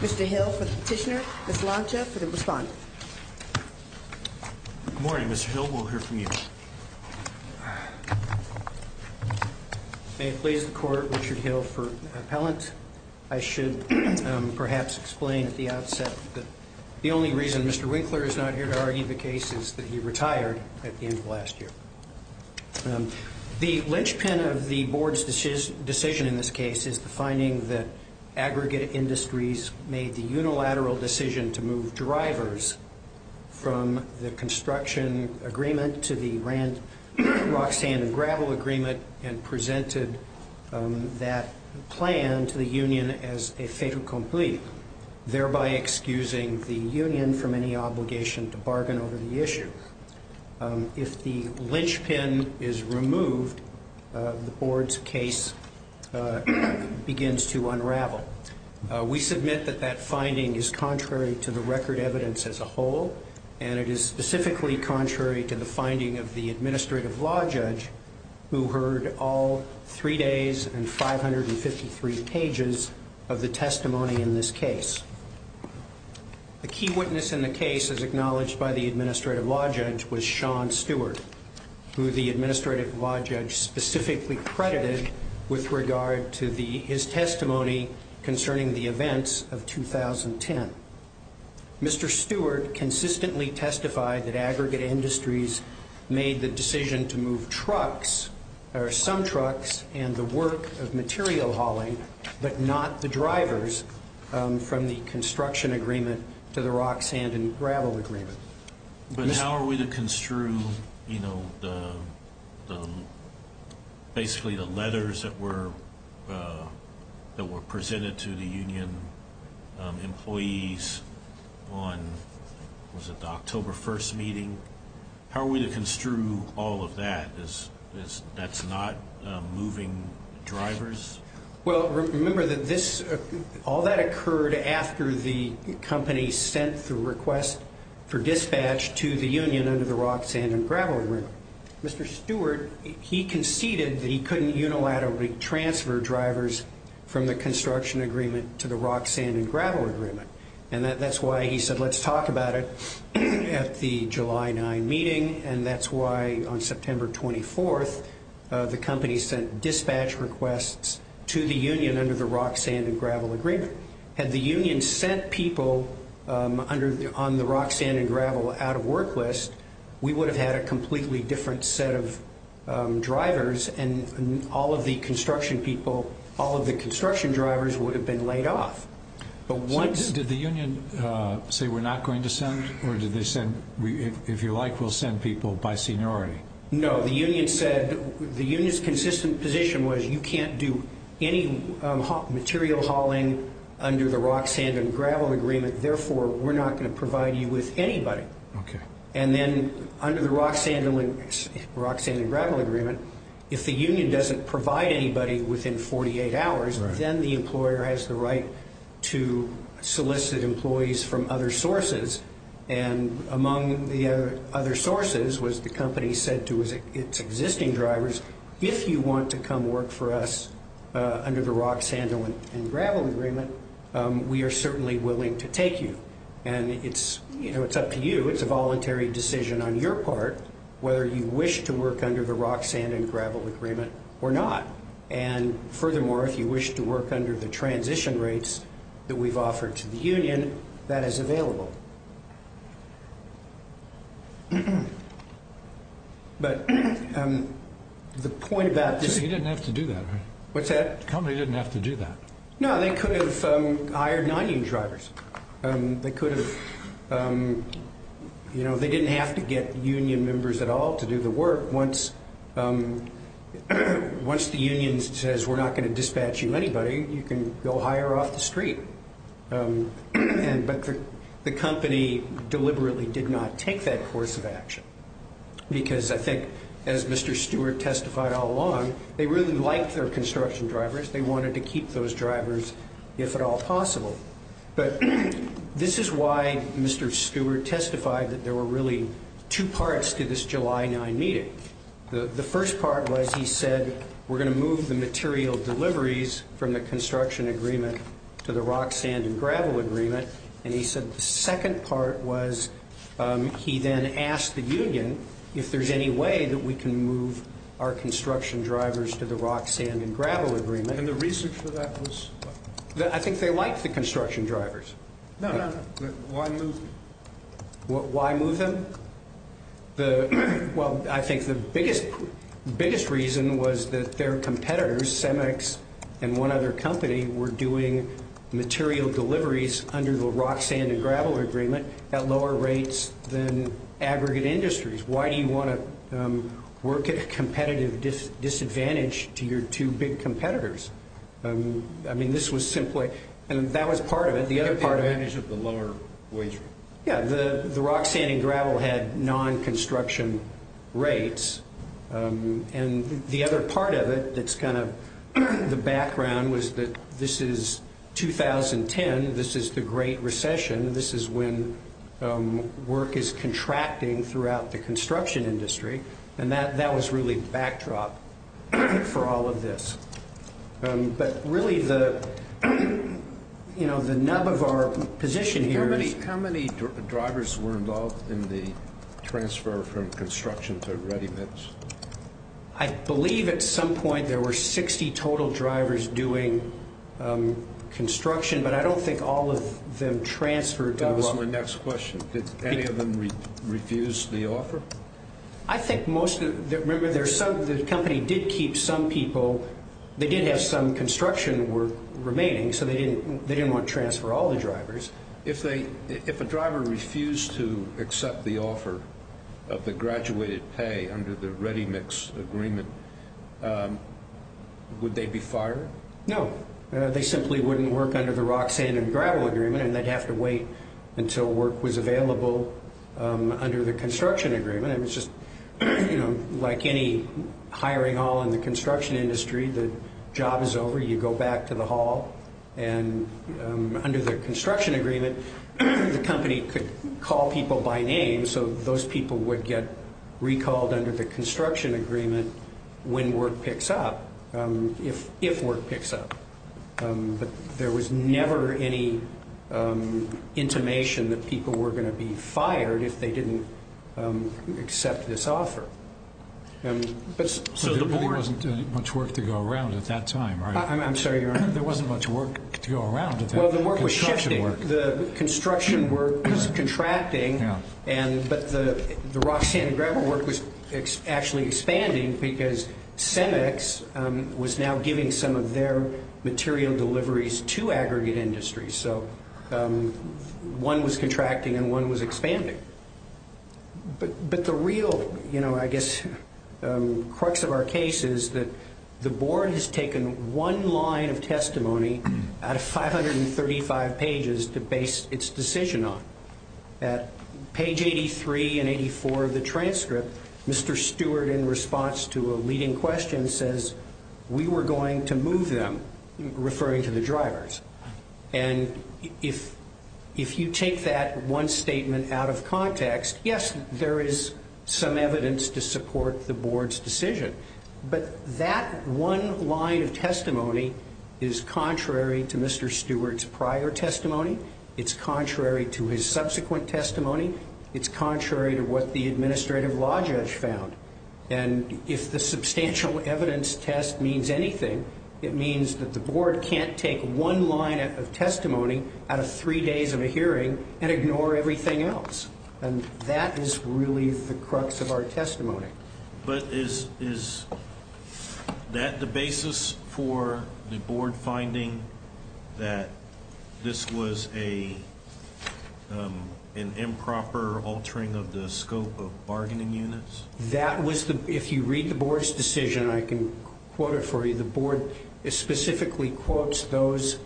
Mr. Hill for the petitioner, Ms. Lancia for the respondent. Good morning, Mr. Hill. We'll hear from you. May it please the Court, Richard Hill for the appellant. I should perhaps explain at the outset that the only reason Mr. Winkler is not here today is because he's not here for the petition. I should argue the case is that he retired at the end of last year. The linchpin of the Board's decision in this case is the finding that Aggregate Industries made the unilateral decision to move drivers from the construction agreement to the Rand, Roxanne and Gravel agreement and presented that plan to the union as a fait accompli, thereby excusing the union from any obligation to bargain over the issue. If the linchpin is removed, the Board's case begins to unravel. We submit that that finding is contrary to the record evidence as a whole, and it is specifically contrary to the finding of the Administrative Law Judge, who heard all three days and 553 pages of the testimony in this case. A key witness in the case, as acknowledged by the Administrative Law Judge, was Sean Stewart, who the Administrative Law Judge specifically credited with regard to his testimony concerning the events of 2010. Mr. Stewart consistently testified that Aggregate Industries made the decision to move trucks, or some trucks, and the work of material hauling, but not the drivers from the construction agreement to the Roxanne and Gravel agreement. But how are we to construe, you know, basically the letters that were presented to the union employees on, was it the October 1st meeting? How are we to construe all of that? That's not moving drivers? Well, remember that this, all that occurred after the company sent the request for dispatch to the union under the Roxanne and Gravel agreement. Mr. Stewart, he conceded that he couldn't unilaterally transfer drivers from the construction agreement to the Roxanne and Gravel agreement. And that's why he said, let's talk about it at the July 9 meeting, and that's why on September 24th, the company sent dispatch requests to the union under the Roxanne and Gravel agreement. Had the union sent people on the Roxanne and Gravel out of work list, we would have had a completely different set of drivers, and all of the construction people, all of the construction drivers would have been laid off. Did the union say we're not going to send, or did they say, if you like, we'll send people by seniority? No, the union said, the union's consistent position was you can't do any material hauling under the Roxanne and Gravel agreement, therefore we're not going to provide you with anybody. And then under the Roxanne and Gravel agreement, if the union doesn't provide anybody within 48 hours, then the employer has the right to solicit employees from other sources, and among the other sources was the company said to its existing drivers, if you want to come work for us under the Roxanne and Gravel agreement, we are certainly willing to take you. And it's up to you. It's a voluntary decision on your part whether you wish to work under the Roxanne and Gravel agreement or not. And furthermore, if you wish to work under the transition rates that we've offered to the union, that is available. But the point about this is... You didn't have to do that, right? What's that? The company didn't have to do that. No, they could have hired non-union drivers. They could have... You know, they didn't have to get union members at all to do the work. Once the union says we're not going to dispatch you to anybody, you can go hire off the street. But the company deliberately did not take that course of action, because I think as Mr. Stewart testified all along, they really liked their construction drivers. They wanted to keep those drivers if at all possible. But this is why Mr. Stewart testified that there were really two parts to this July 9 meeting. The first part was he said we're going to move the material deliveries from the construction agreement to the Roxanne and Gravel agreement. And he said the second part was he then asked the union if there's any way that we can move our construction drivers to the Roxanne and Gravel agreement. And the reason for that was? I think they liked the construction drivers. No, no, no. Why move them? Why move them? Well, I think the biggest reason was that their competitors, Semex and one other company, were doing material deliveries under the Roxanne and Gravel agreement at lower rates than aggregate industries. Why do you want to work at a competitive disadvantage to your two big competitors? I mean, this was simply, and that was part of it. The advantage of the lower wage rate. Yeah, the Roxanne and Gravel had non-construction rates. And the other part of it that's kind of the background was that this is 2010. This is the Great Recession. This is when work is contracting throughout the construction industry. And that was really backdrop for all of this. But really, the nub of our position here is. How many drivers were involved in the transfer from construction to ready mix? I believe at some point there were 60 total drivers doing construction, but I don't think all of them transferred. That was my next question. Did any of them refuse the offer? I think most of them. Remember, the company did keep some people. They did have some construction work remaining, so they didn't want to transfer all the drivers. If a driver refused to accept the offer of the graduated pay under the ready mix agreement, would they be fired? No. They simply wouldn't work under the Roxanne and Gravel agreement, and they'd have to wait until work was available under the construction agreement. It was just like any hiring hall in the construction industry. The job is over. You go back to the hall. And under the construction agreement, the company could call people by name, and so those people would get recalled under the construction agreement when work picks up, if work picks up. But there was never any intimation that people were going to be fired if they didn't accept this offer. So there really wasn't much work to go around at that time, right? I'm sorry, Your Honor. There wasn't much work to go around? Well, the work was shifting. The construction work was contracting, but the Roxanne and Gravel work was actually expanding because CEMEX was now giving some of their material deliveries to aggregate industries. So one was contracting and one was expanding. But the real, I guess, crux of our case is that the board has taken one line of testimony out of 535 pages to base its decision on. At page 83 and 84 of the transcript, Mr. Stewart, in response to a leading question, says we were going to move them, referring to the drivers. And if you take that one statement out of context, yes, there is some evidence to support the board's decision. But that one line of testimony is contrary to Mr. Stewart's prior testimony. It's contrary to his subsequent testimony. It's contrary to what the administrative law judge found. And if the substantial evidence test means anything, it means that the board can't take one line of testimony out of three days of a hearing and ignore everything else. And that is really the crux of our testimony. But is that the basis for the board finding that this was an improper altering of the scope of bargaining units? That was the, if you read the board's decision, I can quote it for you, the board specifically quotes those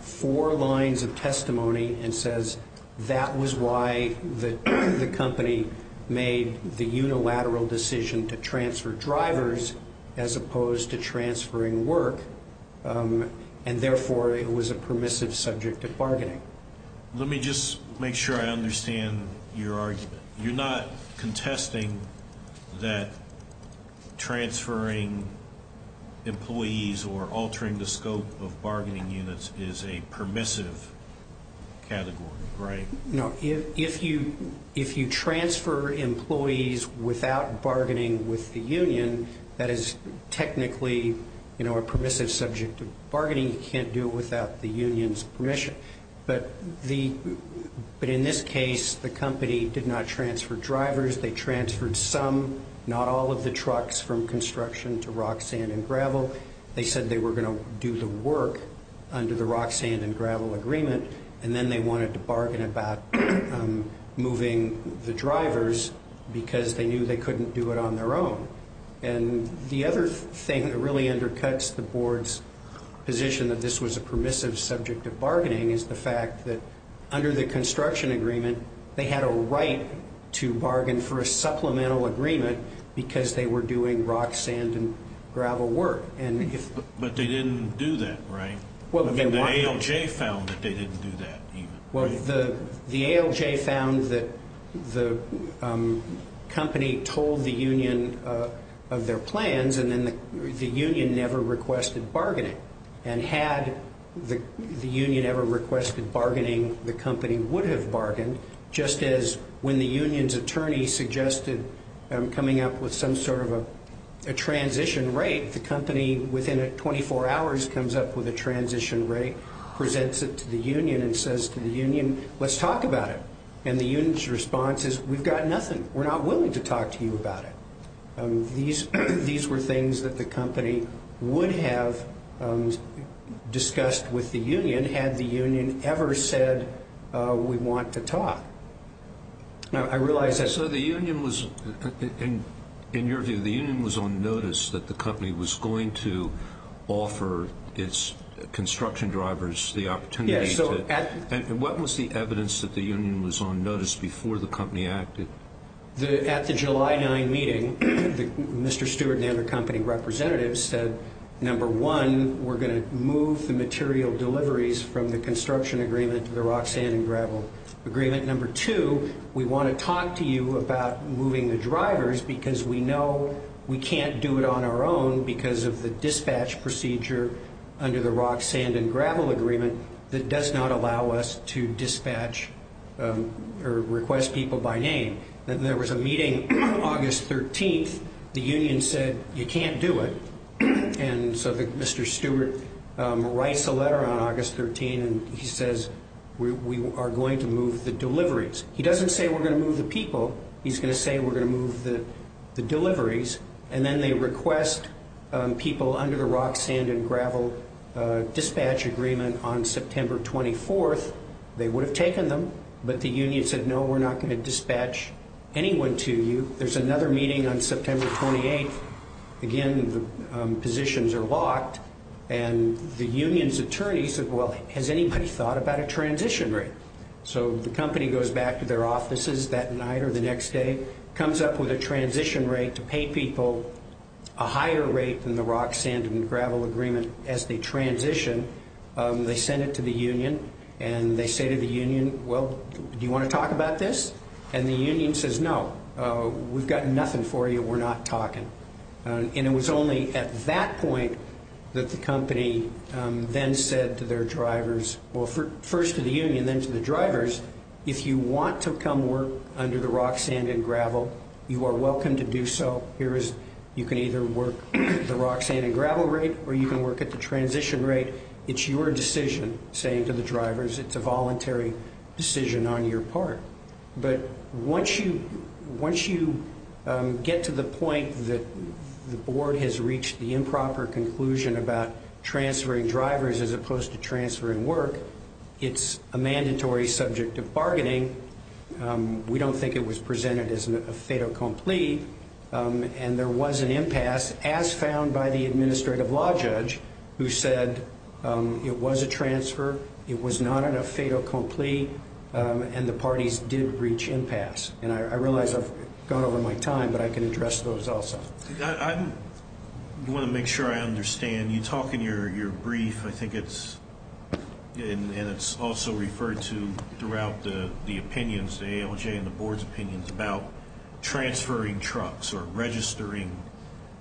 four lines of testimony and says that was why the company made the unilateral decision to transfer drivers as opposed to transferring work. And therefore, it was a permissive subject of bargaining. Let me just make sure I understand your argument. You're not contesting that transferring employees or altering the scope of bargaining units is a permissive category, right? No. If you transfer employees without bargaining with the union, that is technically a permissive subject of bargaining. You can't do it without the union's permission. But in this case, the company did not transfer drivers. They transferred some, not all, of the trucks from construction to rock, sand, and gravel. They said they were going to do the work under the rock, sand, and gravel agreement, and then they wanted to bargain about moving the drivers because they knew they couldn't do it on their own. And the other thing that really undercuts the board's position that this was a permissive subject of bargaining is the fact that under the construction agreement, they had a right to bargain for a supplemental agreement because they were doing rock, sand, and gravel work. But they didn't do that, right? The ALJ found that they didn't do that. Well, the ALJ found that the company told the union of their plans, and then the union never requested bargaining. And had the union ever requested bargaining, the company would have bargained, just as when the union's attorney suggested coming up with some sort of a transition rate, the company, within 24 hours, comes up with a transition rate, presents it to the union, and says to the union, let's talk about it. And the union's response is, we've got nothing. We're not willing to talk to you about it. These were things that the company would have discussed with the union had the union ever said we want to talk. So the union was, in your view, the union was on notice that the company was going to offer its construction drivers the opportunity to And what was the evidence that the union was on notice before the company acted? At the July 9 meeting, Mr. Stewart and the other company representatives said, number one, we're going to move the material deliveries from the construction agreement to the rock, sand, and gravel agreement. Number two, we want to talk to you about moving the drivers because we know we can't do it on our own because of the dispatch procedure under the rock, sand, and gravel agreement that does not allow us to dispatch or request people by name. And there was a meeting August 13th. The union said, you can't do it. And so Mr. Stewart writes a letter on August 13th, and he says, we are going to move the deliveries. He doesn't say we're going to move the people. He's going to say we're going to move the deliveries. And then they request people under the rock, sand, and gravel dispatch agreement on September 24th. They would have taken them, but the union said, no, we're not going to dispatch anyone to you. There's another meeting on September 28th. Again, the positions are locked, and the union's attorney said, well, has anybody thought about a transition rate? So the company goes back to their offices that night or the next day, comes up with a transition rate to pay people a higher rate than the rock, sand, and gravel agreement as they transition. They send it to the union, and they say to the union, well, do you want to talk about this? And the union says, no, we've got nothing for you. We're not talking. And it was only at that point that the company then said to their drivers, well, first to the union, then to the drivers, if you want to come work under the rock, sand, and gravel, you are welcome to do so. You can either work the rock, sand, and gravel rate, or you can work at the transition rate. It's your decision, saying to the drivers, it's a voluntary decision on your part. But once you get to the point that the board has reached the improper conclusion about transferring drivers as opposed to transferring work, it's a mandatory subject of bargaining. We don't think it was presented as a fait accompli. And there was an impasse, as found by the administrative law judge, who said it was a transfer, it was not a fait accompli, and the parties did reach impasse. And I realize I've gone over my time, but I can address those also. I want to make sure I understand. When you talk in your brief, I think it's also referred to throughout the opinions, the ALJ and the board's opinions, about transferring trucks or registering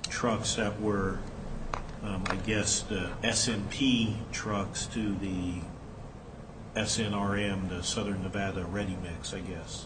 trucks that were, I guess, the SMP trucks to the SNRM, the Southern Nevada ReadyMix, I guess.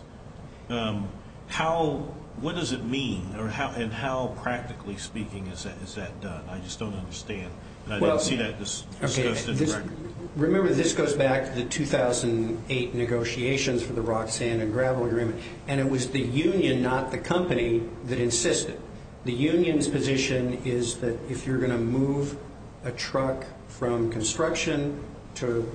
What does it mean, and how practically speaking is that done? I just don't understand. I didn't see that discussed in the record. Remember, this goes back to the 2008 negotiations for the rock, sand, and gravel agreement. And it was the union, not the company, that insisted. The union's position is that if you're going to move a truck from construction to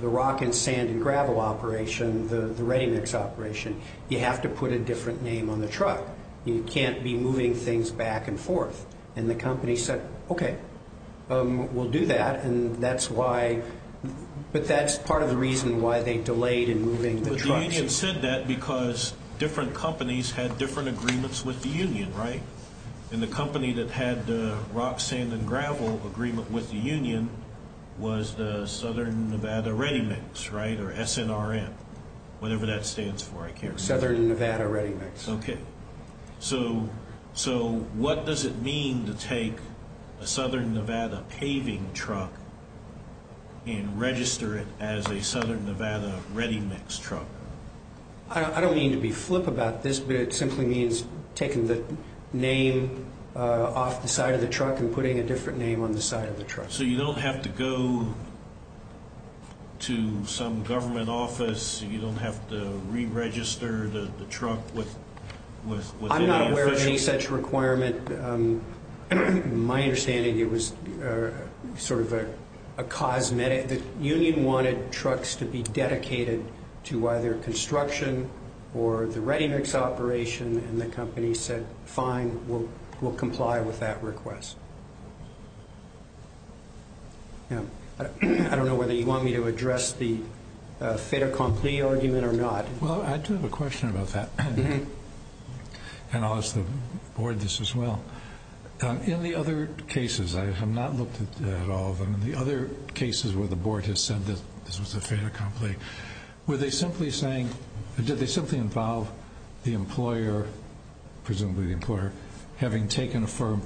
the rock and sand and gravel operation, the ReadyMix operation, you have to put a different name on the truck. You can't be moving things back and forth. And the company said, okay, we'll do that, and that's why. But that's part of the reason why they delayed in moving the trucks. But the union said that because different companies had different agreements with the union, right? And the company that had the rock, sand, and gravel agreement with the union was the Southern Nevada ReadyMix, right, or SNRM, whatever that stands for. Southern Nevada ReadyMix. Okay. So what does it mean to take a Southern Nevada paving truck and register it as a Southern Nevada ReadyMix truck? I don't mean to be flip about this, but it simply means taking the name off the side of the truck and putting a different name on the side of the truck. So you don't have to go to some government office? You don't have to re-register the truck with any official? I'm not aware of any such requirement. My understanding, it was sort of a cosmetic. The union wanted trucks to be dedicated to either construction or the ReadyMix operation, and the company said, fine, we'll comply with that request. I don't know whether you want me to address the fait accompli argument or not. Well, I do have a question about that, and I'll ask the board this as well. In the other cases, I have not looked at all of them, the other cases where the board has said that this was a fait accompli, were they simply saying, did they simply involve the employer, presumably the employer, having taken a firm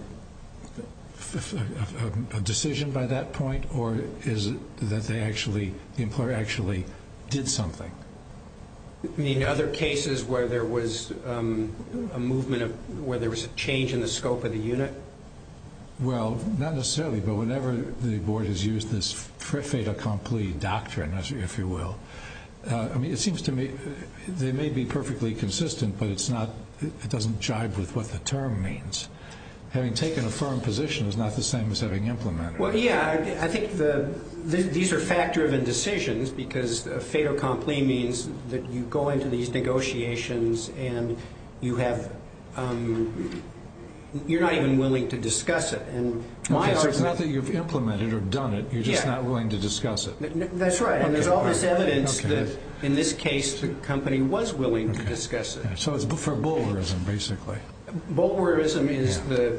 decision by that point, or is it that they actually, the employer actually did something? You mean other cases where there was a movement, where there was a change in the scope of the unit? Well, not necessarily, but whenever the board has used this fait accompli doctrine, if you will, it seems to me they may be perfectly consistent, but it's not, it doesn't jive with what the term means. Having taken a firm position is not the same as having implemented it. Well, yeah, I think these are fact-driven decisions because fait accompli means that you go into these negotiations and you're not even willing to discuss it. It's not that you've implemented or done it, you're just not willing to discuss it. That's right, and there's all this evidence that in this case the company was willing to discuss it. So it's for bolerism, basically. Bolerism is the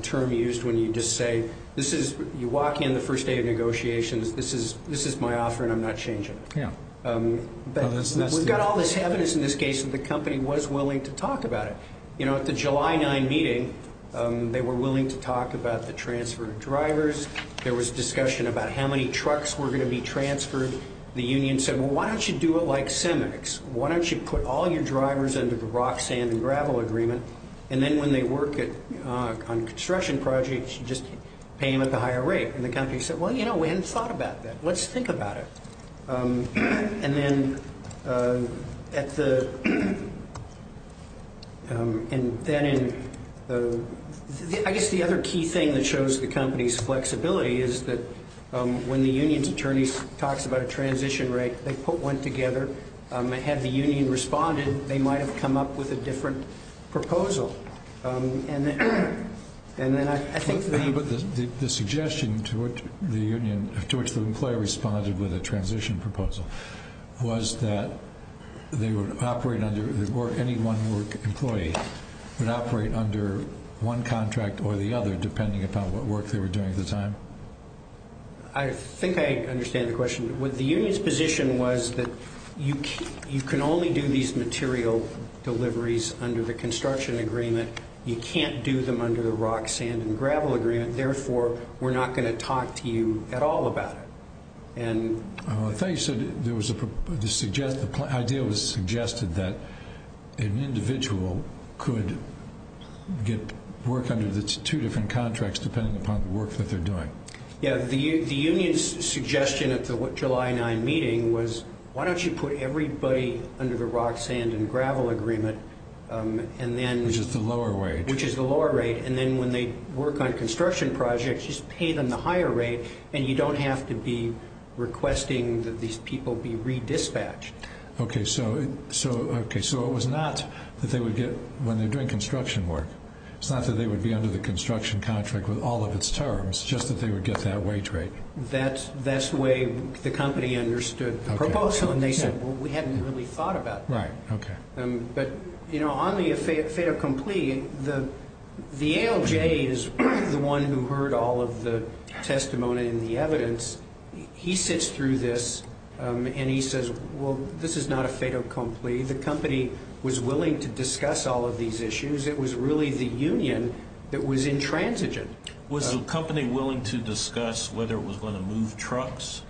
term used when you just say you walk in the first day of negotiations, this is my offer and I'm not changing it. We've got all this evidence in this case that the company was willing to talk about it. At the July 9 meeting, they were willing to talk about the transfer of drivers. There was discussion about how many trucks were going to be transferred. The union said, well, why don't you do it like CEMEX? Why don't you put all your drivers under the rock, sand, and gravel agreement? And then when they work on construction projects, you just pay them at the higher rate. And the company said, well, you know, we hadn't thought about that. Let's think about it. I guess the other key thing that shows the company's flexibility is that when the union's attorney talks about a transition rate, they put one together. Had the union responded, they might have come up with a different proposal. The suggestion to which the employer responded with a transition proposal was that any one work employee would operate under one contract or the other, depending upon what work they were doing at the time? I think I understand the question. The union's position was that you can only do these material deliveries under the construction agreement. You can't do them under the rock, sand, and gravel agreement. Therefore, we're not going to talk to you at all about it. I thought you said the idea was suggested that an individual could work under the two different contracts, depending upon the work that they're doing. The union's suggestion at the July 9 meeting was, why don't you put everybody under the rock, sand, and gravel agreement, which is the lower rate, and then when they work on construction projects, just pay them the higher rate, and you don't have to be requesting that these people be re-dispatched. Okay, so it was not that they would get, when they're doing construction work, it's not that they would be under the construction contract with all of its terms, just that they would get that wage rate. That's the way the company understood the proposal, and they said, well, we hadn't really thought about that. Right, okay. But on the fait accompli, the ALJ is the one who heard all of the testimony and the evidence. He sits through this, and he says, well, this is not a fait accompli. The company was willing to discuss all of these issues. It was really the union that was intransigent. Was the company willing to discuss whether it was going to move trucks?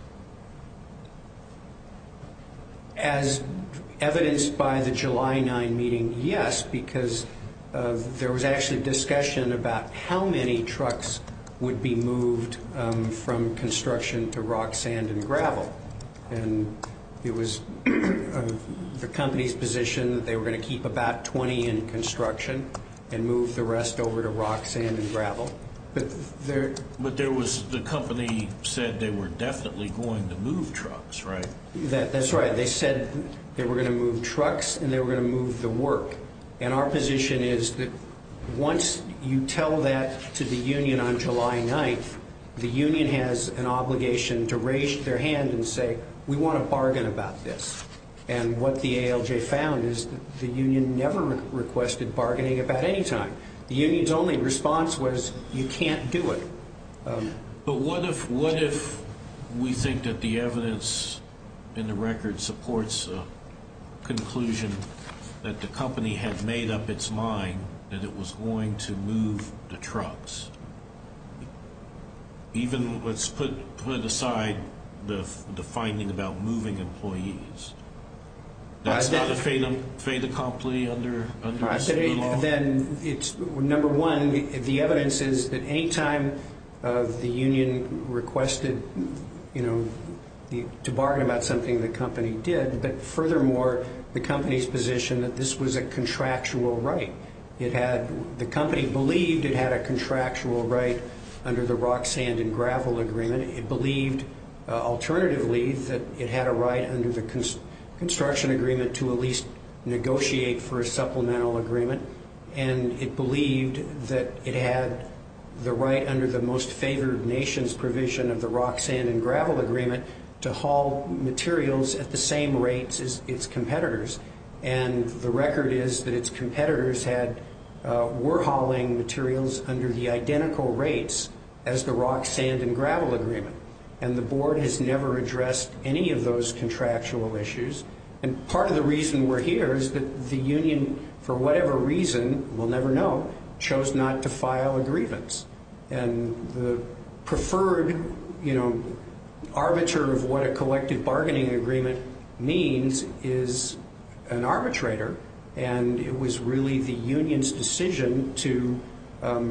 As evidenced by the July 9 meeting, yes, because there was actually discussion about how many trucks would be moved from construction to rock, sand, and gravel. And it was the company's position that they were going to keep about 20 in construction and move the rest over to rock, sand, and gravel. But the company said they were definitely going to move trucks, right? That's right. They said they were going to move trucks and they were going to move the work. And our position is that once you tell that to the union on July 9, the union has an obligation to raise their hand and say, we want to bargain about this. And what the ALJ found is that the union never requested bargaining about any time. The union's only response was, you can't do it. But what if we think that the evidence in the record supports a conclusion that the company had made up its mind that it was going to move the trucks? Even let's put aside the finding about moving employees. That's not a fait accompli under this new law? Number one, the evidence is that any time the union requested to bargain about something, the company did. But furthermore, the company's position that this was a contractual right. The company believed it had a contractual right under the rock, sand, and gravel agreement. And it believed, alternatively, that it had a right under the construction agreement to at least negotiate for a supplemental agreement. And it believed that it had the right under the most favored nations provision of the rock, sand, and gravel agreement to haul materials at the same rates as its competitors. And the record is that its competitors were hauling materials under the identical rates as the rock, sand, and gravel agreement. And the board has never addressed any of those contractual issues. And part of the reason we're here is that the union, for whatever reason, we'll never know, chose not to file a grievance. And the preferred arbiter of what a collective bargaining agreement means is an arbitrator. And it was really the union's decision to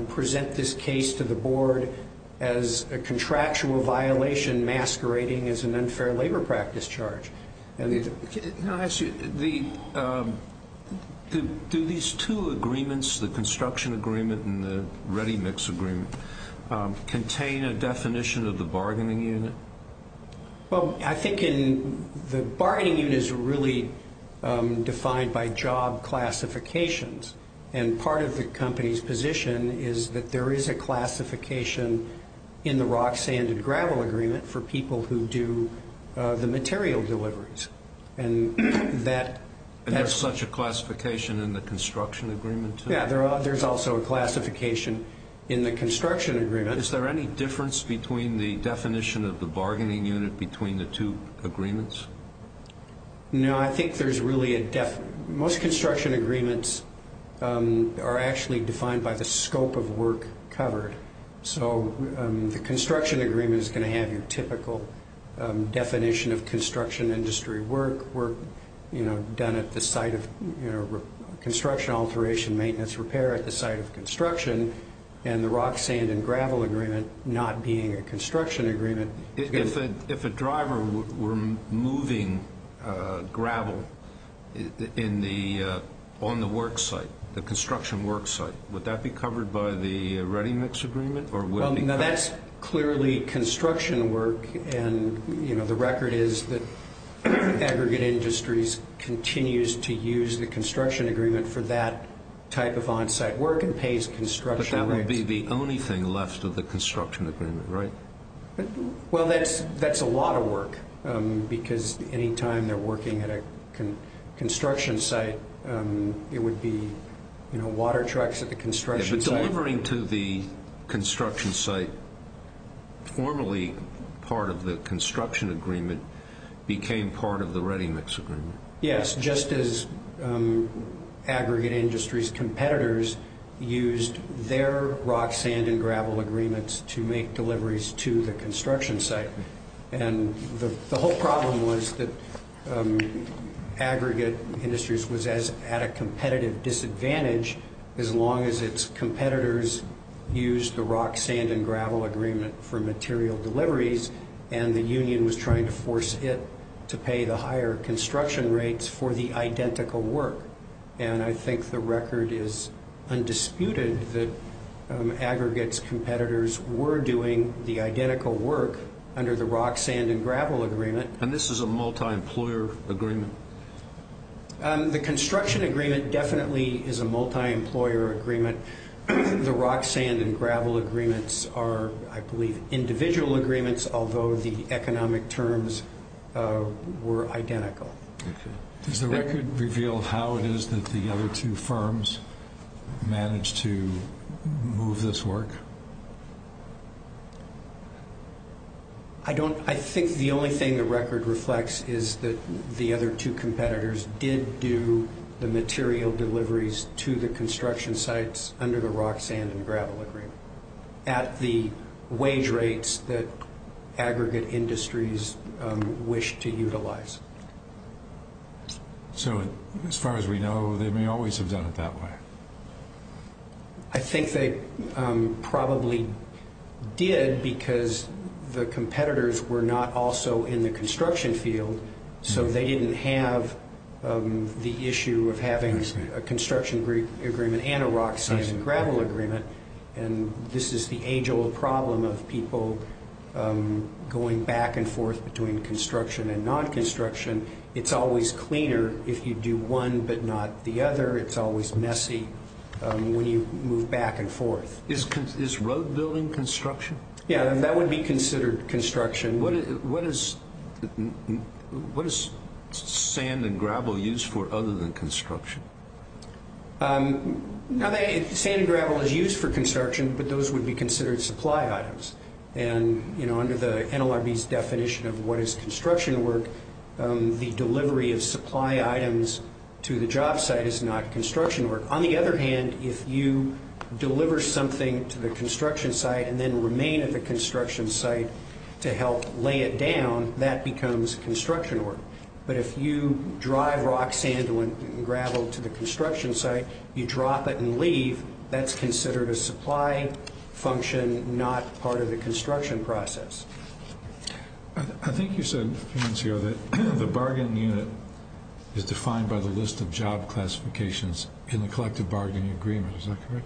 present this case to the board as a contractual violation masquerading as an unfair labor practice charge. Can I ask you, do these two agreements, the construction agreement and the ready mix agreement, contain a definition of the bargaining unit? Well, I think the bargaining unit is really defined by job classifications. And part of the company's position is that there is a classification in the rock, sand, and gravel agreement for people who do the material deliveries. And that's such a classification in the construction agreement? Yeah, there's also a classification in the construction agreement. Is there any difference between the definition of the bargaining unit between the two agreements? No, I think there's really a definition. Most construction agreements are actually defined by the scope of work covered. So the construction agreement is going to have your typical definition of construction industry work, work done at the site of construction, alteration, maintenance, repair at the site of construction. And the rock, sand, and gravel agreement not being a construction agreement. If a driver were moving gravel on the work site, the construction work site, would that be covered by the ready mix agreement? That's clearly construction work, and the record is that aggregate industries continues to use the construction agreement for that type of on-site work and pays construction rates. But that would be the only thing left of the construction agreement, right? Well, that's a lot of work, because any time they're working at a construction site, it would be water trucks at the construction site. But delivering to the construction site, formerly part of the construction agreement, became part of the ready mix agreement. Yes, just as aggregate industries' competitors used their rock, sand, and gravel agreements to make deliveries to the construction site. And the whole problem was that aggregate industries was at a competitive disadvantage as long as its competitors used the rock, sand, and gravel agreement for material deliveries, and the union was trying to force it to pay the higher construction rates for the identical work. And I think the record is undisputed that aggregate's competitors were doing the identical work under the rock, sand, and gravel agreement. And this is a multi-employer agreement? The construction agreement definitely is a multi-employer agreement. The rock, sand, and gravel agreements are, I believe, individual agreements, although the economic terms were identical. Does the record reveal how it is that the other two firms managed to move this work? I think the only thing the record reflects is that the other two competitors did do the material deliveries to the construction sites under the rock, sand, and gravel agreement at the wage rates that aggregate industries wished to utilize. So as far as we know, they may always have done it that way. I think they probably did because the competitors were not also in the construction field, so they didn't have the issue of having a construction agreement and a rock, sand, and gravel agreement. And this is the age-old problem of people going back and forth between construction and non-construction. It's always cleaner if you do one but not the other. It's always messy when you move back and forth. Is road building construction? Yeah, that would be considered construction. What is sand and gravel used for other than construction? Sand and gravel is used for construction, but those would be considered supply items. And under the NLRB's definition of what is construction work, the delivery of supply items to the job site is not construction work. On the other hand, if you deliver something to the construction site and then remain at the construction site to help lay it down, that becomes construction work. But if you drive rock, sand, and gravel to the construction site, you drop it and leave, that's considered a supply function, not part of the construction process. I think you said a few minutes ago that the bargain unit is defined by the list of job classifications in the collective bargaining agreement. Is that correct?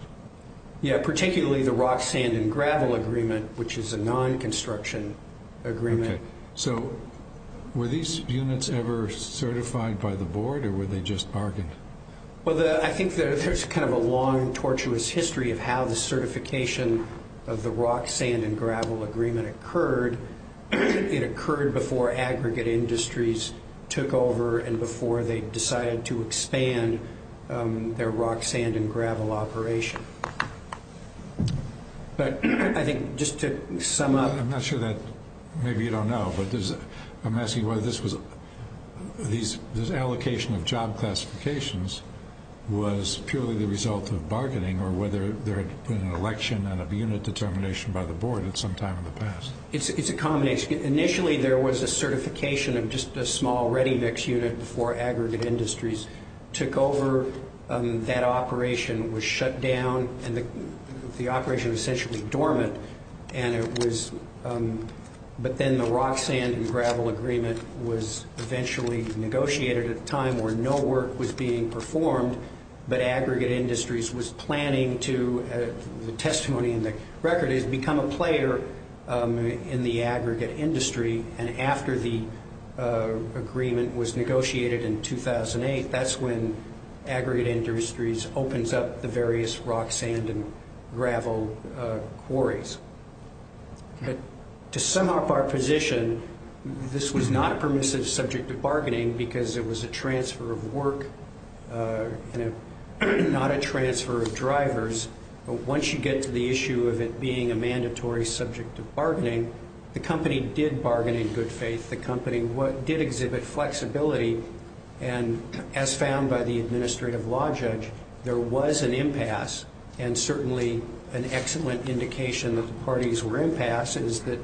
Yeah, particularly the rock, sand, and gravel agreement, which is a non-construction agreement. Okay, so were these units ever certified by the board, or were they just bargained? Well, I think there's kind of a long, tortuous history of how the certification of the rock, sand, and gravel agreement occurred. It occurred before aggregate industries took over and before they decided to expand their rock, sand, and gravel operation. But I think just to sum up... I'm not sure that, maybe you don't know, but I'm asking whether this allocation of job classifications was purely the result of bargaining, or whether there had been an election and a unit determination by the board at some time in the past. It's a combination. Initially, there was a certification of just a small ready mix unit before aggregate industries took over. That operation was shut down, and the operation was essentially dormant. But then the rock, sand, and gravel agreement was eventually negotiated at a time where no work was being performed, but aggregate industries was planning to, the testimony in the record is, become a player in the aggregate industry. And after the agreement was negotiated in 2008, that's when aggregate industries opens up the various rock, sand, and gravel quarries. But to sum up our position, this was not a permissive subject of bargaining because it was a transfer of work and not a transfer of drivers. But once you get to the issue of it being a mandatory subject of bargaining, the company did bargain in good faith. The company did exhibit flexibility, and as found by the administrative law judge, there was an impasse. And certainly an excellent indication that the parties were impasse is that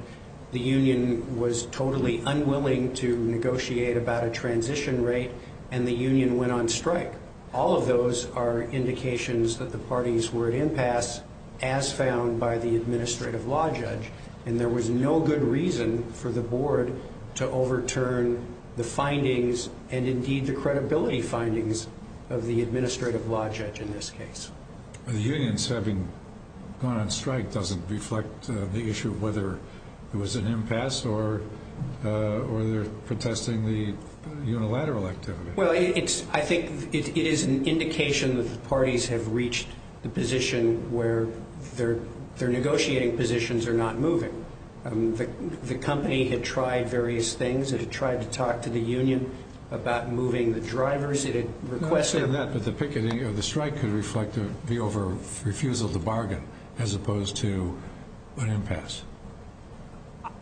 the union was totally unwilling to negotiate about a transition rate, and the union went on strike. All of those are indications that the parties were at impasse as found by the administrative law judge, and there was no good reason for the board to overturn the findings and indeed the credibility findings of the administrative law judge in this case. The unions having gone on strike doesn't reflect the issue of whether it was an impasse or they're protesting the unilateral activity. Well, I think it is an indication that the parties have reached the position where their negotiating positions are not moving. The company had tried various things. It had tried to talk to the union about moving the drivers. It had requested that the picketing of the strike could reflect the refusal to bargain as opposed to an impasse.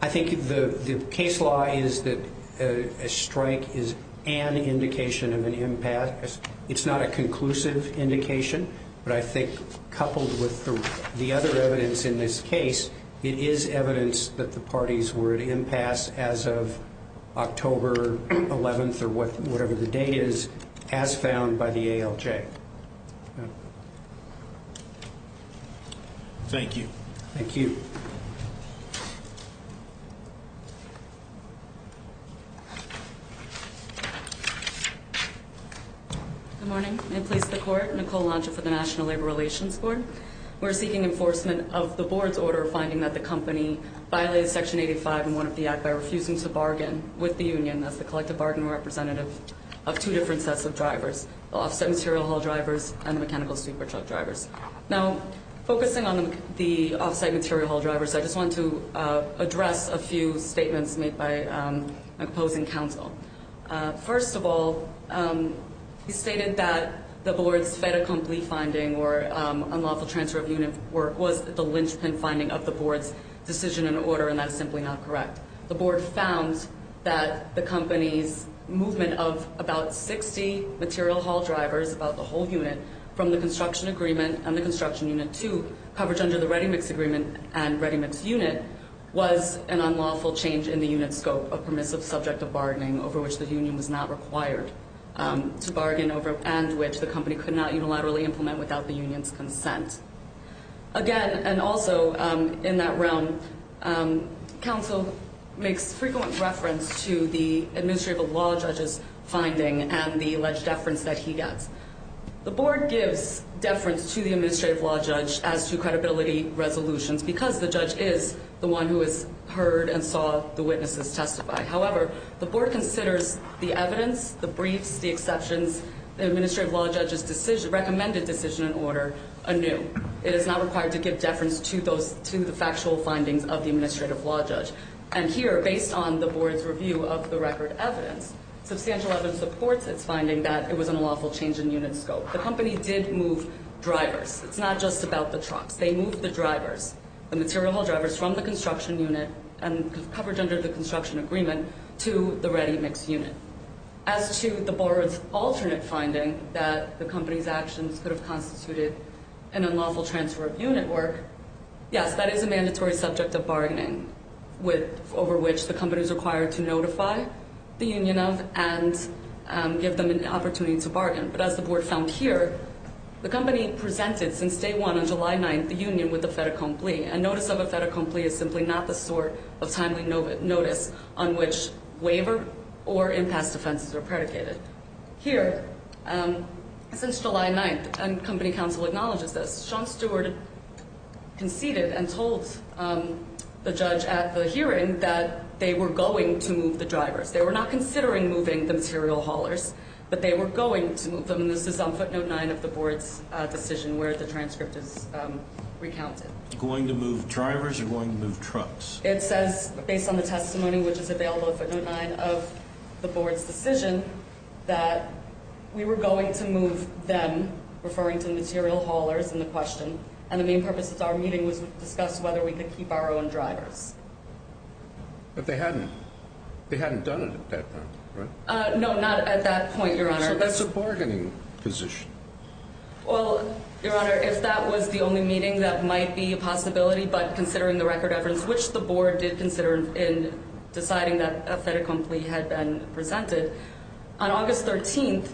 I think the case law is that a strike is an indication of an impasse. It's not a conclusive indication, but I think coupled with the other evidence in this case, it is evidence that the parties were at impasse as of October 11th or whatever the date is as found by the ALJ. Okay. Thank you. Thank you. Good morning. May it please the Court. Nicole Alonzo for the National Labor Relations Board. We're seeking enforcement of the board's order finding that the company violated Section 85 and 1 of the Act by refusing to bargain with the union. That's the collective bargain representative of two different sets of drivers. The off-site material haul drivers and the mechanical super truck drivers. Now, focusing on the off-site material haul drivers, I just want to address a few statements made by my opposing counsel. First of all, he stated that the board's fait accompli finding or unlawful transfer of unit work was the lynchpin finding of the board's decision and order, and that's simply not correct. The board found that the company's movement of about 60 material haul drivers, about the whole unit, from the construction agreement and the construction unit to coverage under the ready mix agreement and ready mix unit, was an unlawful change in the unit scope, a permissive subject of bargaining over which the union was not required to bargain and which the company could not unilaterally implement without the union's consent. Again, and also in that realm, counsel makes frequent reference to the administrative law judge's finding and the alleged deference that he gets. The board gives deference to the administrative law judge as to credibility resolutions because the judge is the one who has heard and saw the witnesses testify. However, the board considers the evidence, the briefs, the exceptions, the administrative law judge's recommended decision and order anew. It is not required to give deference to the factual findings of the administrative law judge. And here, based on the board's review of the record evidence, substantial evidence supports its finding that it was an unlawful change in unit scope. The company did move drivers. It's not just about the trucks. They moved the drivers, the material haul drivers from the construction unit and coverage under the construction agreement to the ready mix unit. As to the board's alternate finding that the company's actions could have constituted an unlawful transfer of unit work, yes, that is a mandatory subject of bargaining over which the company is required to notify the union of and give them an opportunity to bargain. But as the board found here, the company presented since day one on July 9th the union with a fait accompli. A notice of a fait accompli is simply not the sort of timely notice on which waiver or impasse defenses are predicated. Here, since July 9th, and company counsel acknowledges this, Sean Stewart conceded and told the judge at the hearing that they were going to move the drivers. They were not considering moving the material haulers, but they were going to move them. And this is on footnote 9 of the board's decision where the transcript is recounted. Going to move drivers or going to move trucks? It says, based on the testimony which is available at footnote 9 of the board's decision, that we were going to move them, referring to material haulers in the question, and the main purpose of our meeting was to discuss whether we could keep our own drivers. But they hadn't. They hadn't done it at that point, right? No, not at that point, Your Honor. So that's a bargaining position. Well, Your Honor, if that was the only meeting, that might be a possibility, but considering the record evidence, which the board did consider in deciding that a fait accompli had been presented, on August 13th,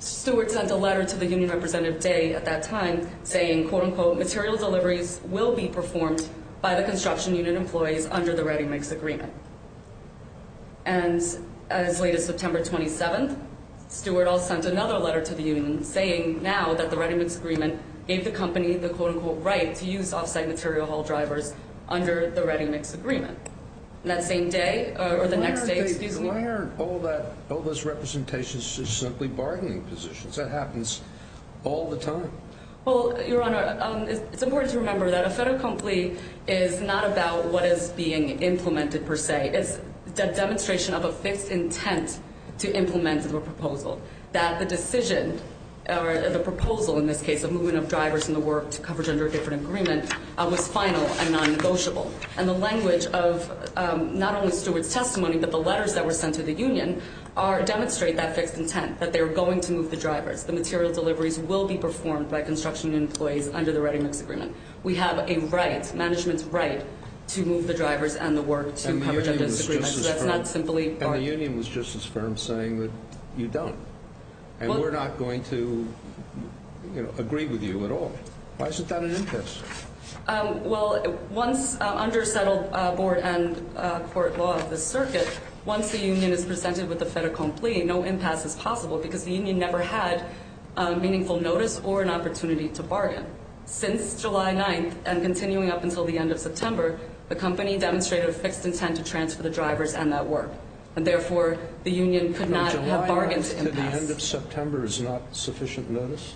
Stewart sent a letter to the union representative, Day, at that time, saying, quote-unquote, material deliveries will be performed by the construction unit employees under the ReadyMix agreement. And as late as September 27th, Stewart also sent another letter to the union, saying now that the ReadyMix agreement gave the company the, quote-unquote, right to use offsite material haul drivers under the ReadyMix agreement. That same day, or the next day, excuse me. Why aren't all those representations just simply bargaining positions? That happens all the time. Well, Your Honor, it's important to remember that a fait accompli is not about what is being implemented per se. It's a demonstration of a fixed intent to implement a proposal. That the decision, or the proposal in this case, of moving up drivers in the work to coverage under a different agreement, was final and non-negotiable. And the language of not only Stewart's testimony, but the letters that were sent to the union, demonstrate that fixed intent, that they're going to move the drivers. The material deliveries will be performed by construction employees under the ReadyMix agreement. We have a right, management's right, to move the drivers and the work to coverage under this agreement. And the union was just as firm saying that you don't. And we're not going to agree with you at all. Why isn't that an interest? Well, under settled board and court law of the circuit, once the union is presented with a fait accompli, no impasse is possible because the union never had meaningful notice or an opportunity to bargain. Since July 9th, and continuing up until the end of September, the company demonstrated a fixed intent to transfer the drivers and that work. And therefore, the union could not have bargained impasse. July 9th to the end of September is not sufficient notice?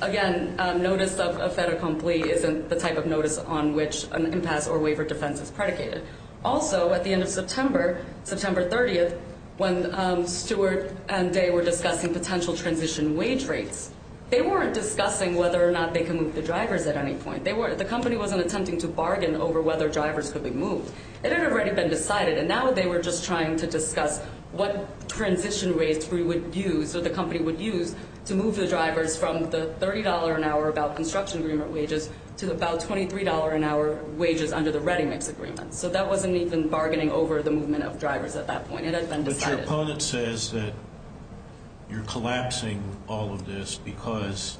Again, notice of fait accompli isn't the type of notice on which an impasse or waiver defense is predicated. Also, at the end of September, September 30th, when Stewart and Day were discussing potential transition wage rates, they weren't discussing whether or not they can move the drivers at any point. The company wasn't attempting to bargain over whether drivers could be moved. It had already been decided. And now they were just trying to discuss what transition rates we would use, or the company would use to move the drivers from the $30 an hour about construction agreement wages to about $23 an hour wages under the ready mix agreement. So that wasn't even bargaining over the movement of drivers at that point. It had been decided. But your opponent says that you're collapsing all of this because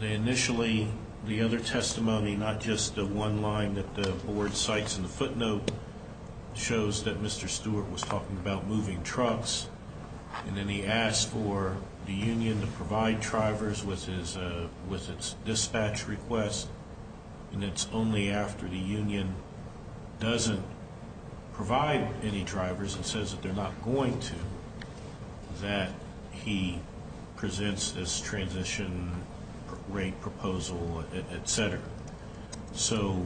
they initially, the other testimony, not just the one line that the board cites in the footnote, shows that Mr. Stewart was talking about moving trucks. And then he asked for the union to provide drivers with its dispatch request. And it's only after the union doesn't provide any drivers and says that they're not going to that he presents this transition rate proposal, et cetera. So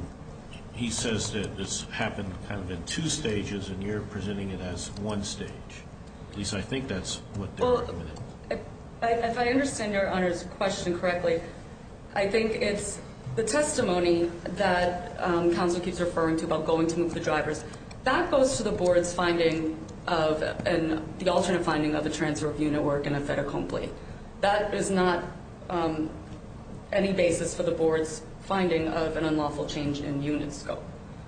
he says that this happened kind of in two stages, and you're presenting it as one stage. At least I think that's what they're recommending. Well, if I understand Your Honor's question correctly, I think it's the testimony that counsel keeps referring to about going to move the drivers. That goes to the board's finding of the alternate finding of the transfer of unit work and a fait accompli. That is not any basis for the board's finding of an unlawful change in unit scope.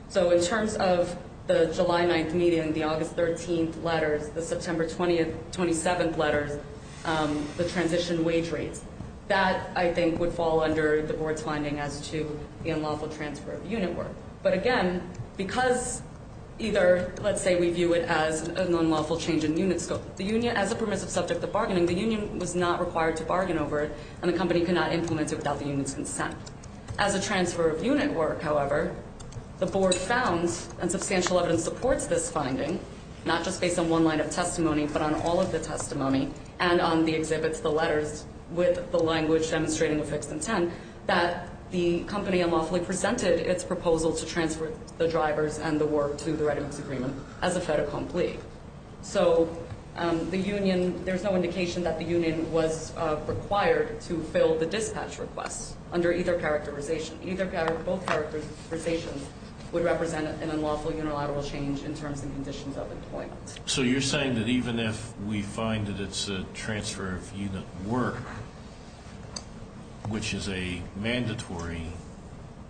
So in terms of the July 9th meeting, the August 13th letters, the September 27th letters, the transition wage rates, that I think would fall under the board's finding as to the unlawful transfer of unit work. But again, because either let's say we view it as an unlawful change in unit scope, as a permissive subject of bargaining, the union was not required to bargain over it, and the company could not implement it without the union's consent. As a transfer of unit work, however, the board found, and substantial evidence supports this finding, not just based on one line of testimony but on all of the testimony and on the exhibits, the letters with the language demonstrating a fixed intent, and that the company unlawfully presented its proposal to transfer the drivers and the work to the readiness agreement as a fait accompli. So the union, there's no indication that the union was required to fill the dispatch request under either characterization. Either or both characterizations would represent an unlawful unilateral change in terms and conditions of employment. So you're saying that even if we find that it's a transfer of unit work, which is a mandatory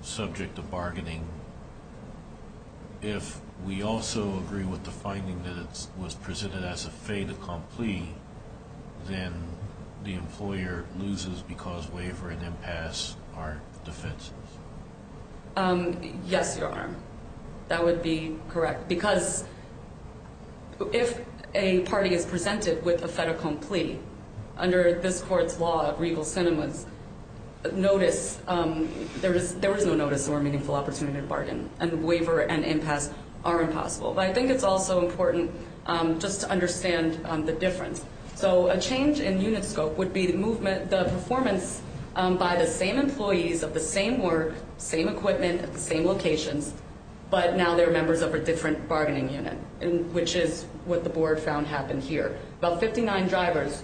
subject of bargaining, if we also agree with the finding that it was presented as a fait accompli, then the employer loses because waiver and impasse are defenses? Yes, Your Honor. That would be correct. Because if a party is presented with a fait accompli, under this court's law of regal cinemas, notice, there was no notice or meaningful opportunity to bargain, and waiver and impasse are impossible. But I think it's also important just to understand the difference. So a change in unit scope would be the performance by the same employees of the same work, same equipment, same locations, but now they're members of a different bargaining unit, which is what the board found happened here. About 59 drivers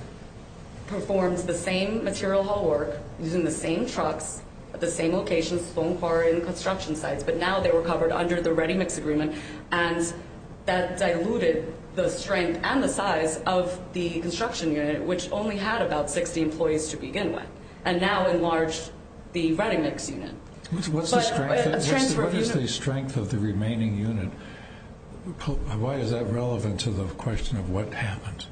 performed the same material hall work using the same trucks at the same locations, phone car, and construction sites, but now they were covered under the ReadyMix agreement, and that diluted the strength and the size of the construction unit, which only had about 60 employees to begin with, and now enlarged the ReadyMix unit. What's the strength of the remaining unit? Why is that relevant to the question of what happened?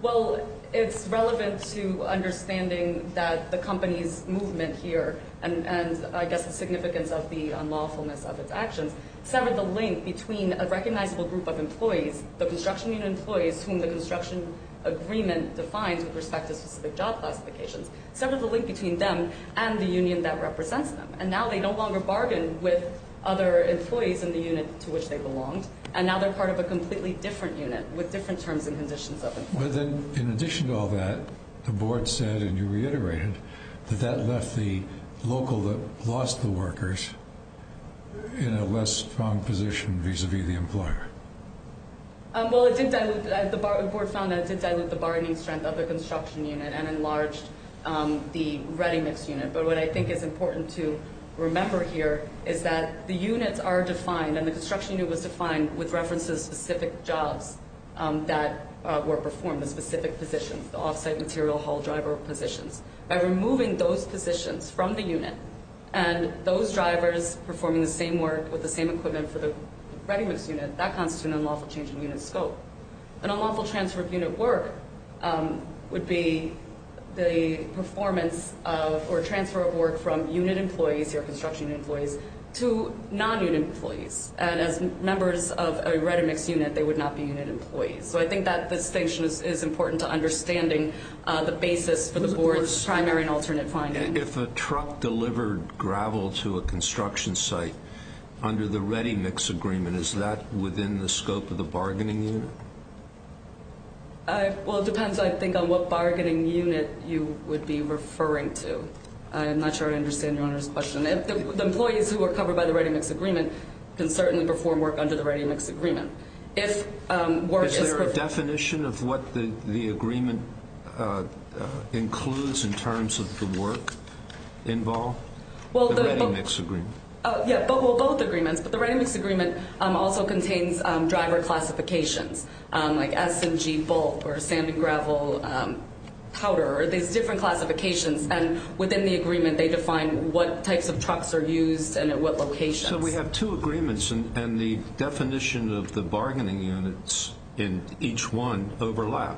Well, it's relevant to understanding that the company's movement here, and I guess the significance of the unlawfulness of its actions, severed the link between a recognizable group of employees, the construction unit employees, whom the construction agreement defines with respect to specific job classifications, severed the link between them and the union that represents them, and now they no longer bargain with other employees in the unit to which they belonged, and now they're part of a completely different unit with different terms and conditions of employment. In addition to all that, the board said, and you reiterated, that that left the local that lost the workers in a less strong position vis-a-vis the employer. Well, the board found that it did dilute the bargaining strength of the construction unit and enlarged the ReadyMix unit, but what I think is important to remember here is that the units are defined, and the construction unit was defined with reference to the specific jobs that were performed, the specific positions, the off-site material haul driver positions. By removing those positions from the unit and those drivers performing the same work with the same equipment for the ReadyMix unit, that constitutes an unlawful change in unit scope. An unlawful transfer of unit work would be the performance of or transfer of work from unit employees, your construction employees, to non-unit employees. And as members of a ReadyMix unit, they would not be unit employees. So I think that distinction is important to understanding the basis for the board's primary and alternate finding. If a truck delivered gravel to a construction site under the ReadyMix agreement, is that within the scope of the bargaining unit? Well, it depends, I think, on what bargaining unit you would be referring to. I'm not sure I understand your Honor's question. The employees who were covered by the ReadyMix agreement can certainly perform work under the ReadyMix agreement. Is there a definition of what the agreement includes in terms of the work involved, the ReadyMix agreement? Yeah, well, both agreements, but the ReadyMix agreement also contains driver classifications, like S and G bulk or sand and gravel, powder, these different classifications. And within the agreement, they define what types of trucks are used and at what locations. So we have two agreements, and the definition of the bargaining units in each one overlap.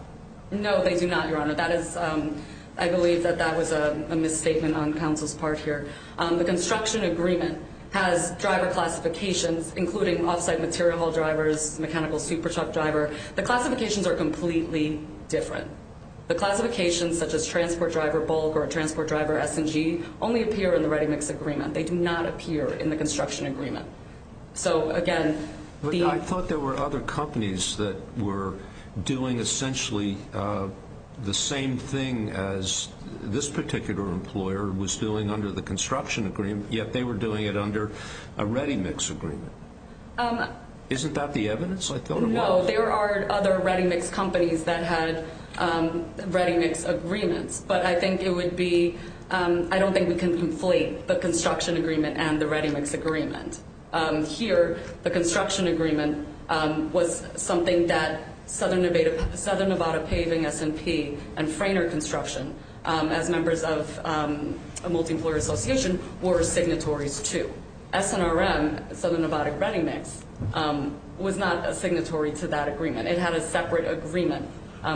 No, they do not, your Honor. I believe that that was a misstatement on counsel's part here. The construction agreement has driver classifications, including off-site material haul drivers, mechanical super truck driver. The classifications are completely different. The classifications, such as transport driver bulk or transport driver S and G, only appear in the ReadyMix agreement. They do not appear in the construction agreement. So, again, the- I thought there were other companies that were doing essentially the same thing as this particular employer was doing under the construction agreement, yet they were doing it under a ReadyMix agreement. Isn't that the evidence? I thought it was. No, there are other ReadyMix companies that had ReadyMix agreements. But I think it would be-I don't think we can conflate the construction agreement and the ReadyMix agreement. Here, the construction agreement was something that Southern Nevada Paving S&P and Frayner Construction, as members of a multi-employer association, were signatories to. SNRM, Southern Nevada ReadyMix, was not a signatory to that agreement. It had a separate agreement,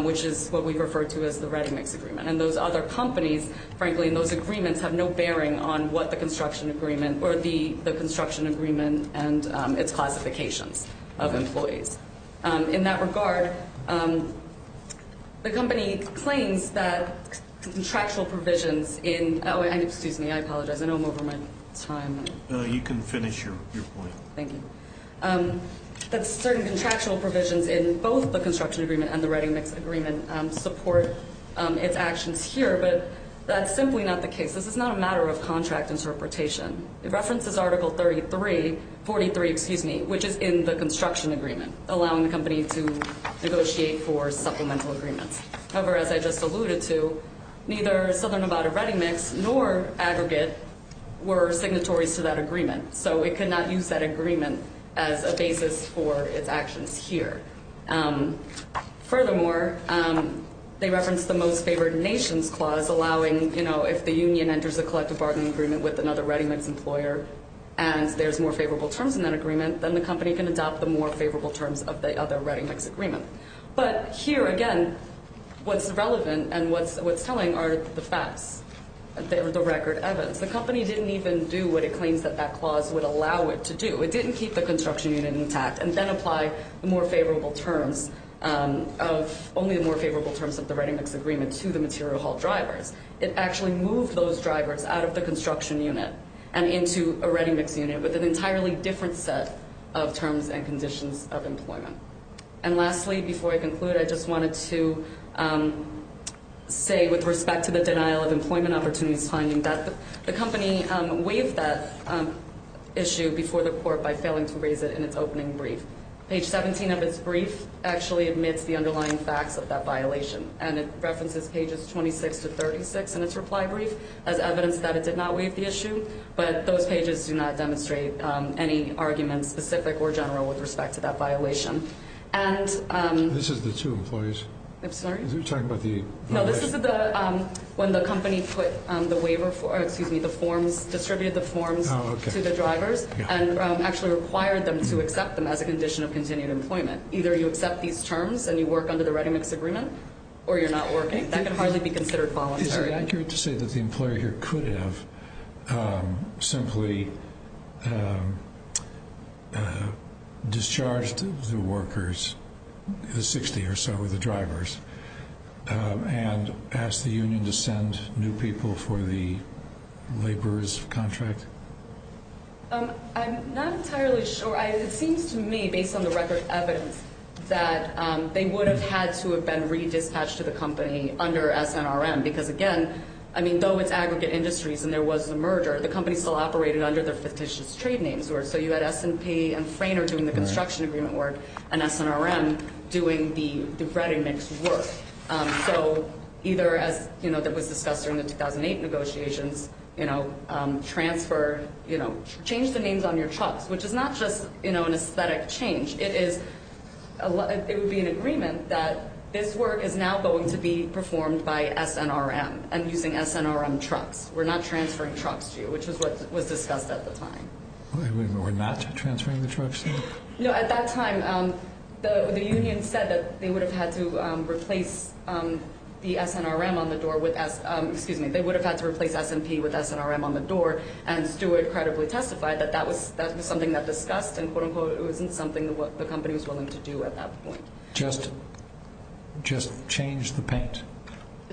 which is what we refer to as the ReadyMix agreement. And those other companies, frankly, in those agreements, have no bearing on what the construction agreement or the construction agreement and its classifications of employees. In that regard, the company claims that contractual provisions in-oh, excuse me. I apologize. I know I'm over my time. You can finish your point. Thank you. That certain contractual provisions in both the construction agreement and the ReadyMix agreement support its actions here, but that's simply not the case. This is not a matter of contract interpretation. It references Article 33-43, excuse me, which is in the construction agreement, allowing the company to negotiate for supplemental agreements. However, as I just alluded to, neither Southern Nevada ReadyMix nor Aggregate were signatories to that agreement, so it could not use that agreement as a basis for its actions here. Furthermore, they reference the most favored nations clause allowing, you know, if the union enters a collective bargaining agreement with another ReadyMix employer and there's more favorable terms in that agreement, then the company can adopt the more favorable terms of the other ReadyMix agreement. But here, again, what's relevant and what's telling are the facts, the record evidence. The company didn't even do what it claims that that clause would allow it to do. It didn't keep the construction unit intact and then apply the more favorable terms of only the more favorable terms of the ReadyMix agreement to the material haul drivers. It actually moved those drivers out of the construction unit and into a ReadyMix unit with an entirely different set of terms and conditions of employment. And lastly, before I conclude, I just wanted to say with respect to the denial of employment opportunities finding that the company waived that issue before the court by failing to raise it in its opening brief. Page 17 of its brief actually admits the underlying facts of that violation, and it references pages 26 to 36 in its reply brief as evidence that it did not waive the issue, but those pages do not demonstrate any argument, specific or general, with respect to that violation. This is the two employees? I'm sorry? You're talking about the violation? No, this is when the company distributed the forms to the drivers and actually required them to accept them as a condition of continued employment. Either you accept these terms and you work under the ReadyMix agreement or you're not working. That can hardly be considered voluntary. Is it accurate to say that the employer here could have simply discharged the workers, the 60 or so of the drivers, and asked the union to send new people for the laborers' contract? I'm not entirely sure. It seems to me, based on the record of evidence, that they would have had to have been re-dispatched to the company under SNRM, because, again, I mean, though it's aggregate industries and there was a merger, the company still operated under their fictitious trade names. So you had S&P and Frayner doing the construction agreement work and SNRM doing the ReadyMix work. So either, as was discussed during the 2008 negotiations, transfer, change the names on your trucks, which is not just an aesthetic change. It would be an agreement that this work is now going to be performed by SNRM and using SNRM trucks. We're not transferring trucks to you, which was what was discussed at the time. We're not transferring the trucks? No, at that time, the union said that they would have had to replace the SNRM on the door with – excuse me, they would have had to replace S&P with SNRM on the door, and Stewart credibly testified that that was something that was discussed and, quote-unquote, it wasn't something the company was willing to do at that point. Just change the paint?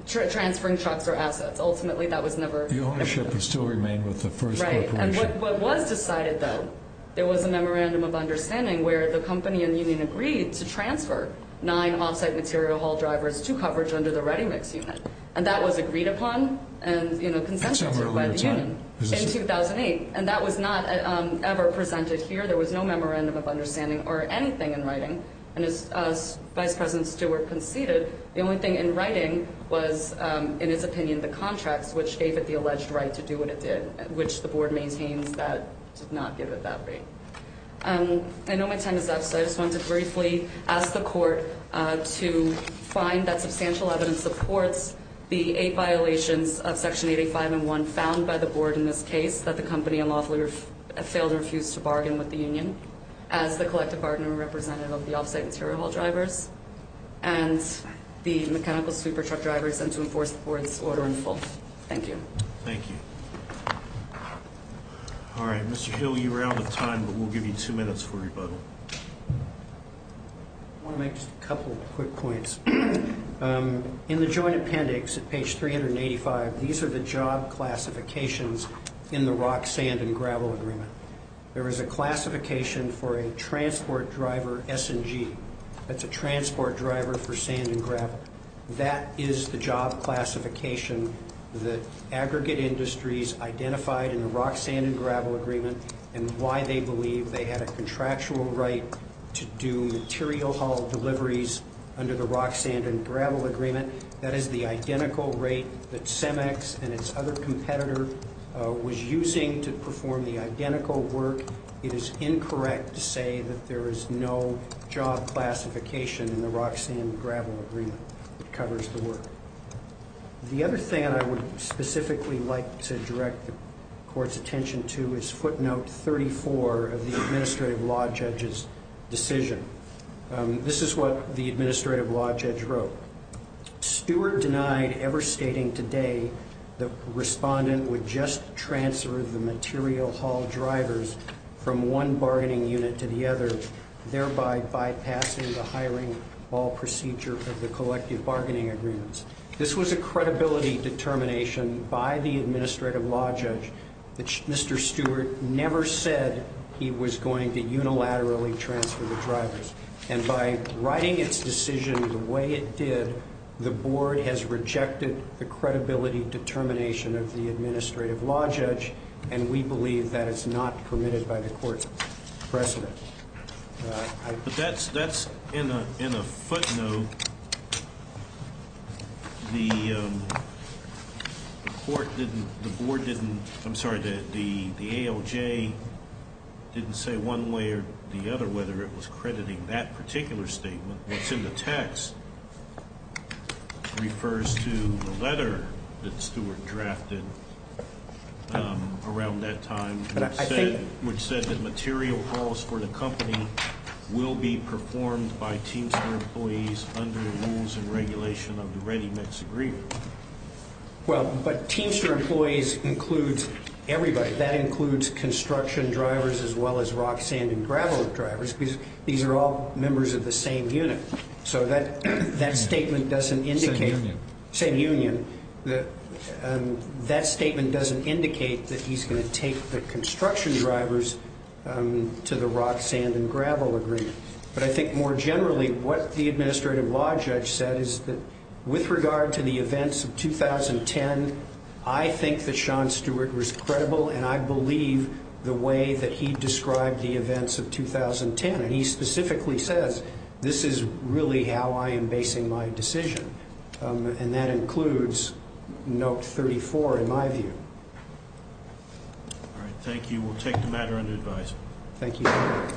Transferring trucks or assets. Ultimately, that was never – The ownership would still remain with the first corporation. Right, and what was decided, though, there was a memorandum of understanding where the company and union agreed to transfer nine off-site material haul drivers to coverage under the ReadyMix unit, and that was agreed upon and consented to by the union in 2008, and that was not ever presented here. There was no memorandum of understanding or anything in writing, and as Vice President Stewart conceded, the only thing in writing was, in his opinion, the contracts, which gave it the alleged right to do what it did, which the board maintains that did not give it that right. I know my time is up, so I just wanted to briefly ask the court to find that substantial evidence supports the eight violations of Section 85 and 1 found by the board in this case, that the company unlawfully failed or refused to bargain with the union as the collective bargaining representative of the off-site material haul drivers, and the mechanical sweeper truck drivers, and to enforce the board's order in full. Thank you. Thank you. All right, Mr. Hill, you're out of time, but we'll give you two minutes for rebuttal. I want to make just a couple quick points. In the joint appendix at page 385, these are the job classifications in the rock, sand, and gravel agreement. There is a classification for a transport driver S&G. That's a transport driver for sand and gravel. That is the job classification that aggregate industries identified in the rock, sand, and gravel agreement and why they believe they had a contractual right to do material haul deliveries under the rock, sand, and gravel agreement. That is the identical rate that Cemex and its other competitor was using to perform the identical work. It is incorrect to say that there is no job classification in the rock, sand, and gravel agreement that covers the work. The other thing I would specifically like to direct the court's attention to is footnote 34 of the administrative law judge's decision. This is what the administrative law judge wrote. Stewart denied ever stating today the respondent would just transfer the material haul drivers from one bargaining unit to the other, thereby bypassing the hiring all procedure of the collective bargaining agreements. This was a credibility determination by the administrative law judge. Mr. Stewart never said he was going to unilaterally transfer the drivers. And by writing its decision the way it did, the board has rejected the credibility determination of the administrative law judge, and we believe that it's not permitted by the court's precedent. But that's in a footnote. The court didn't, the board didn't, I'm sorry, the ALJ didn't say one way or the other whether it was crediting that particular statement. What's in the text refers to the letter that Stewart drafted around that time, which said that material hauls for the company will be performed by Teamster employees under the rules and regulation of the ReadyMix agreement. Well, but Teamster employees includes everybody. That includes construction drivers as well as rock, sand, and gravel drivers because these are all members of the same unit. So that statement doesn't indicate. Same union. That statement doesn't indicate that he's going to take the construction drivers to the rock, sand, and gravel agreement. But I think more generally what the administrative law judge said is that with regard to the events of 2010, I think that Sean Stewart was credible and I believe the way that he described the events of 2010. And he specifically says this is really how I am basing my decision. And that includes note 34 in my view. All right. Thank you. We'll take the matter under advice. Thank you.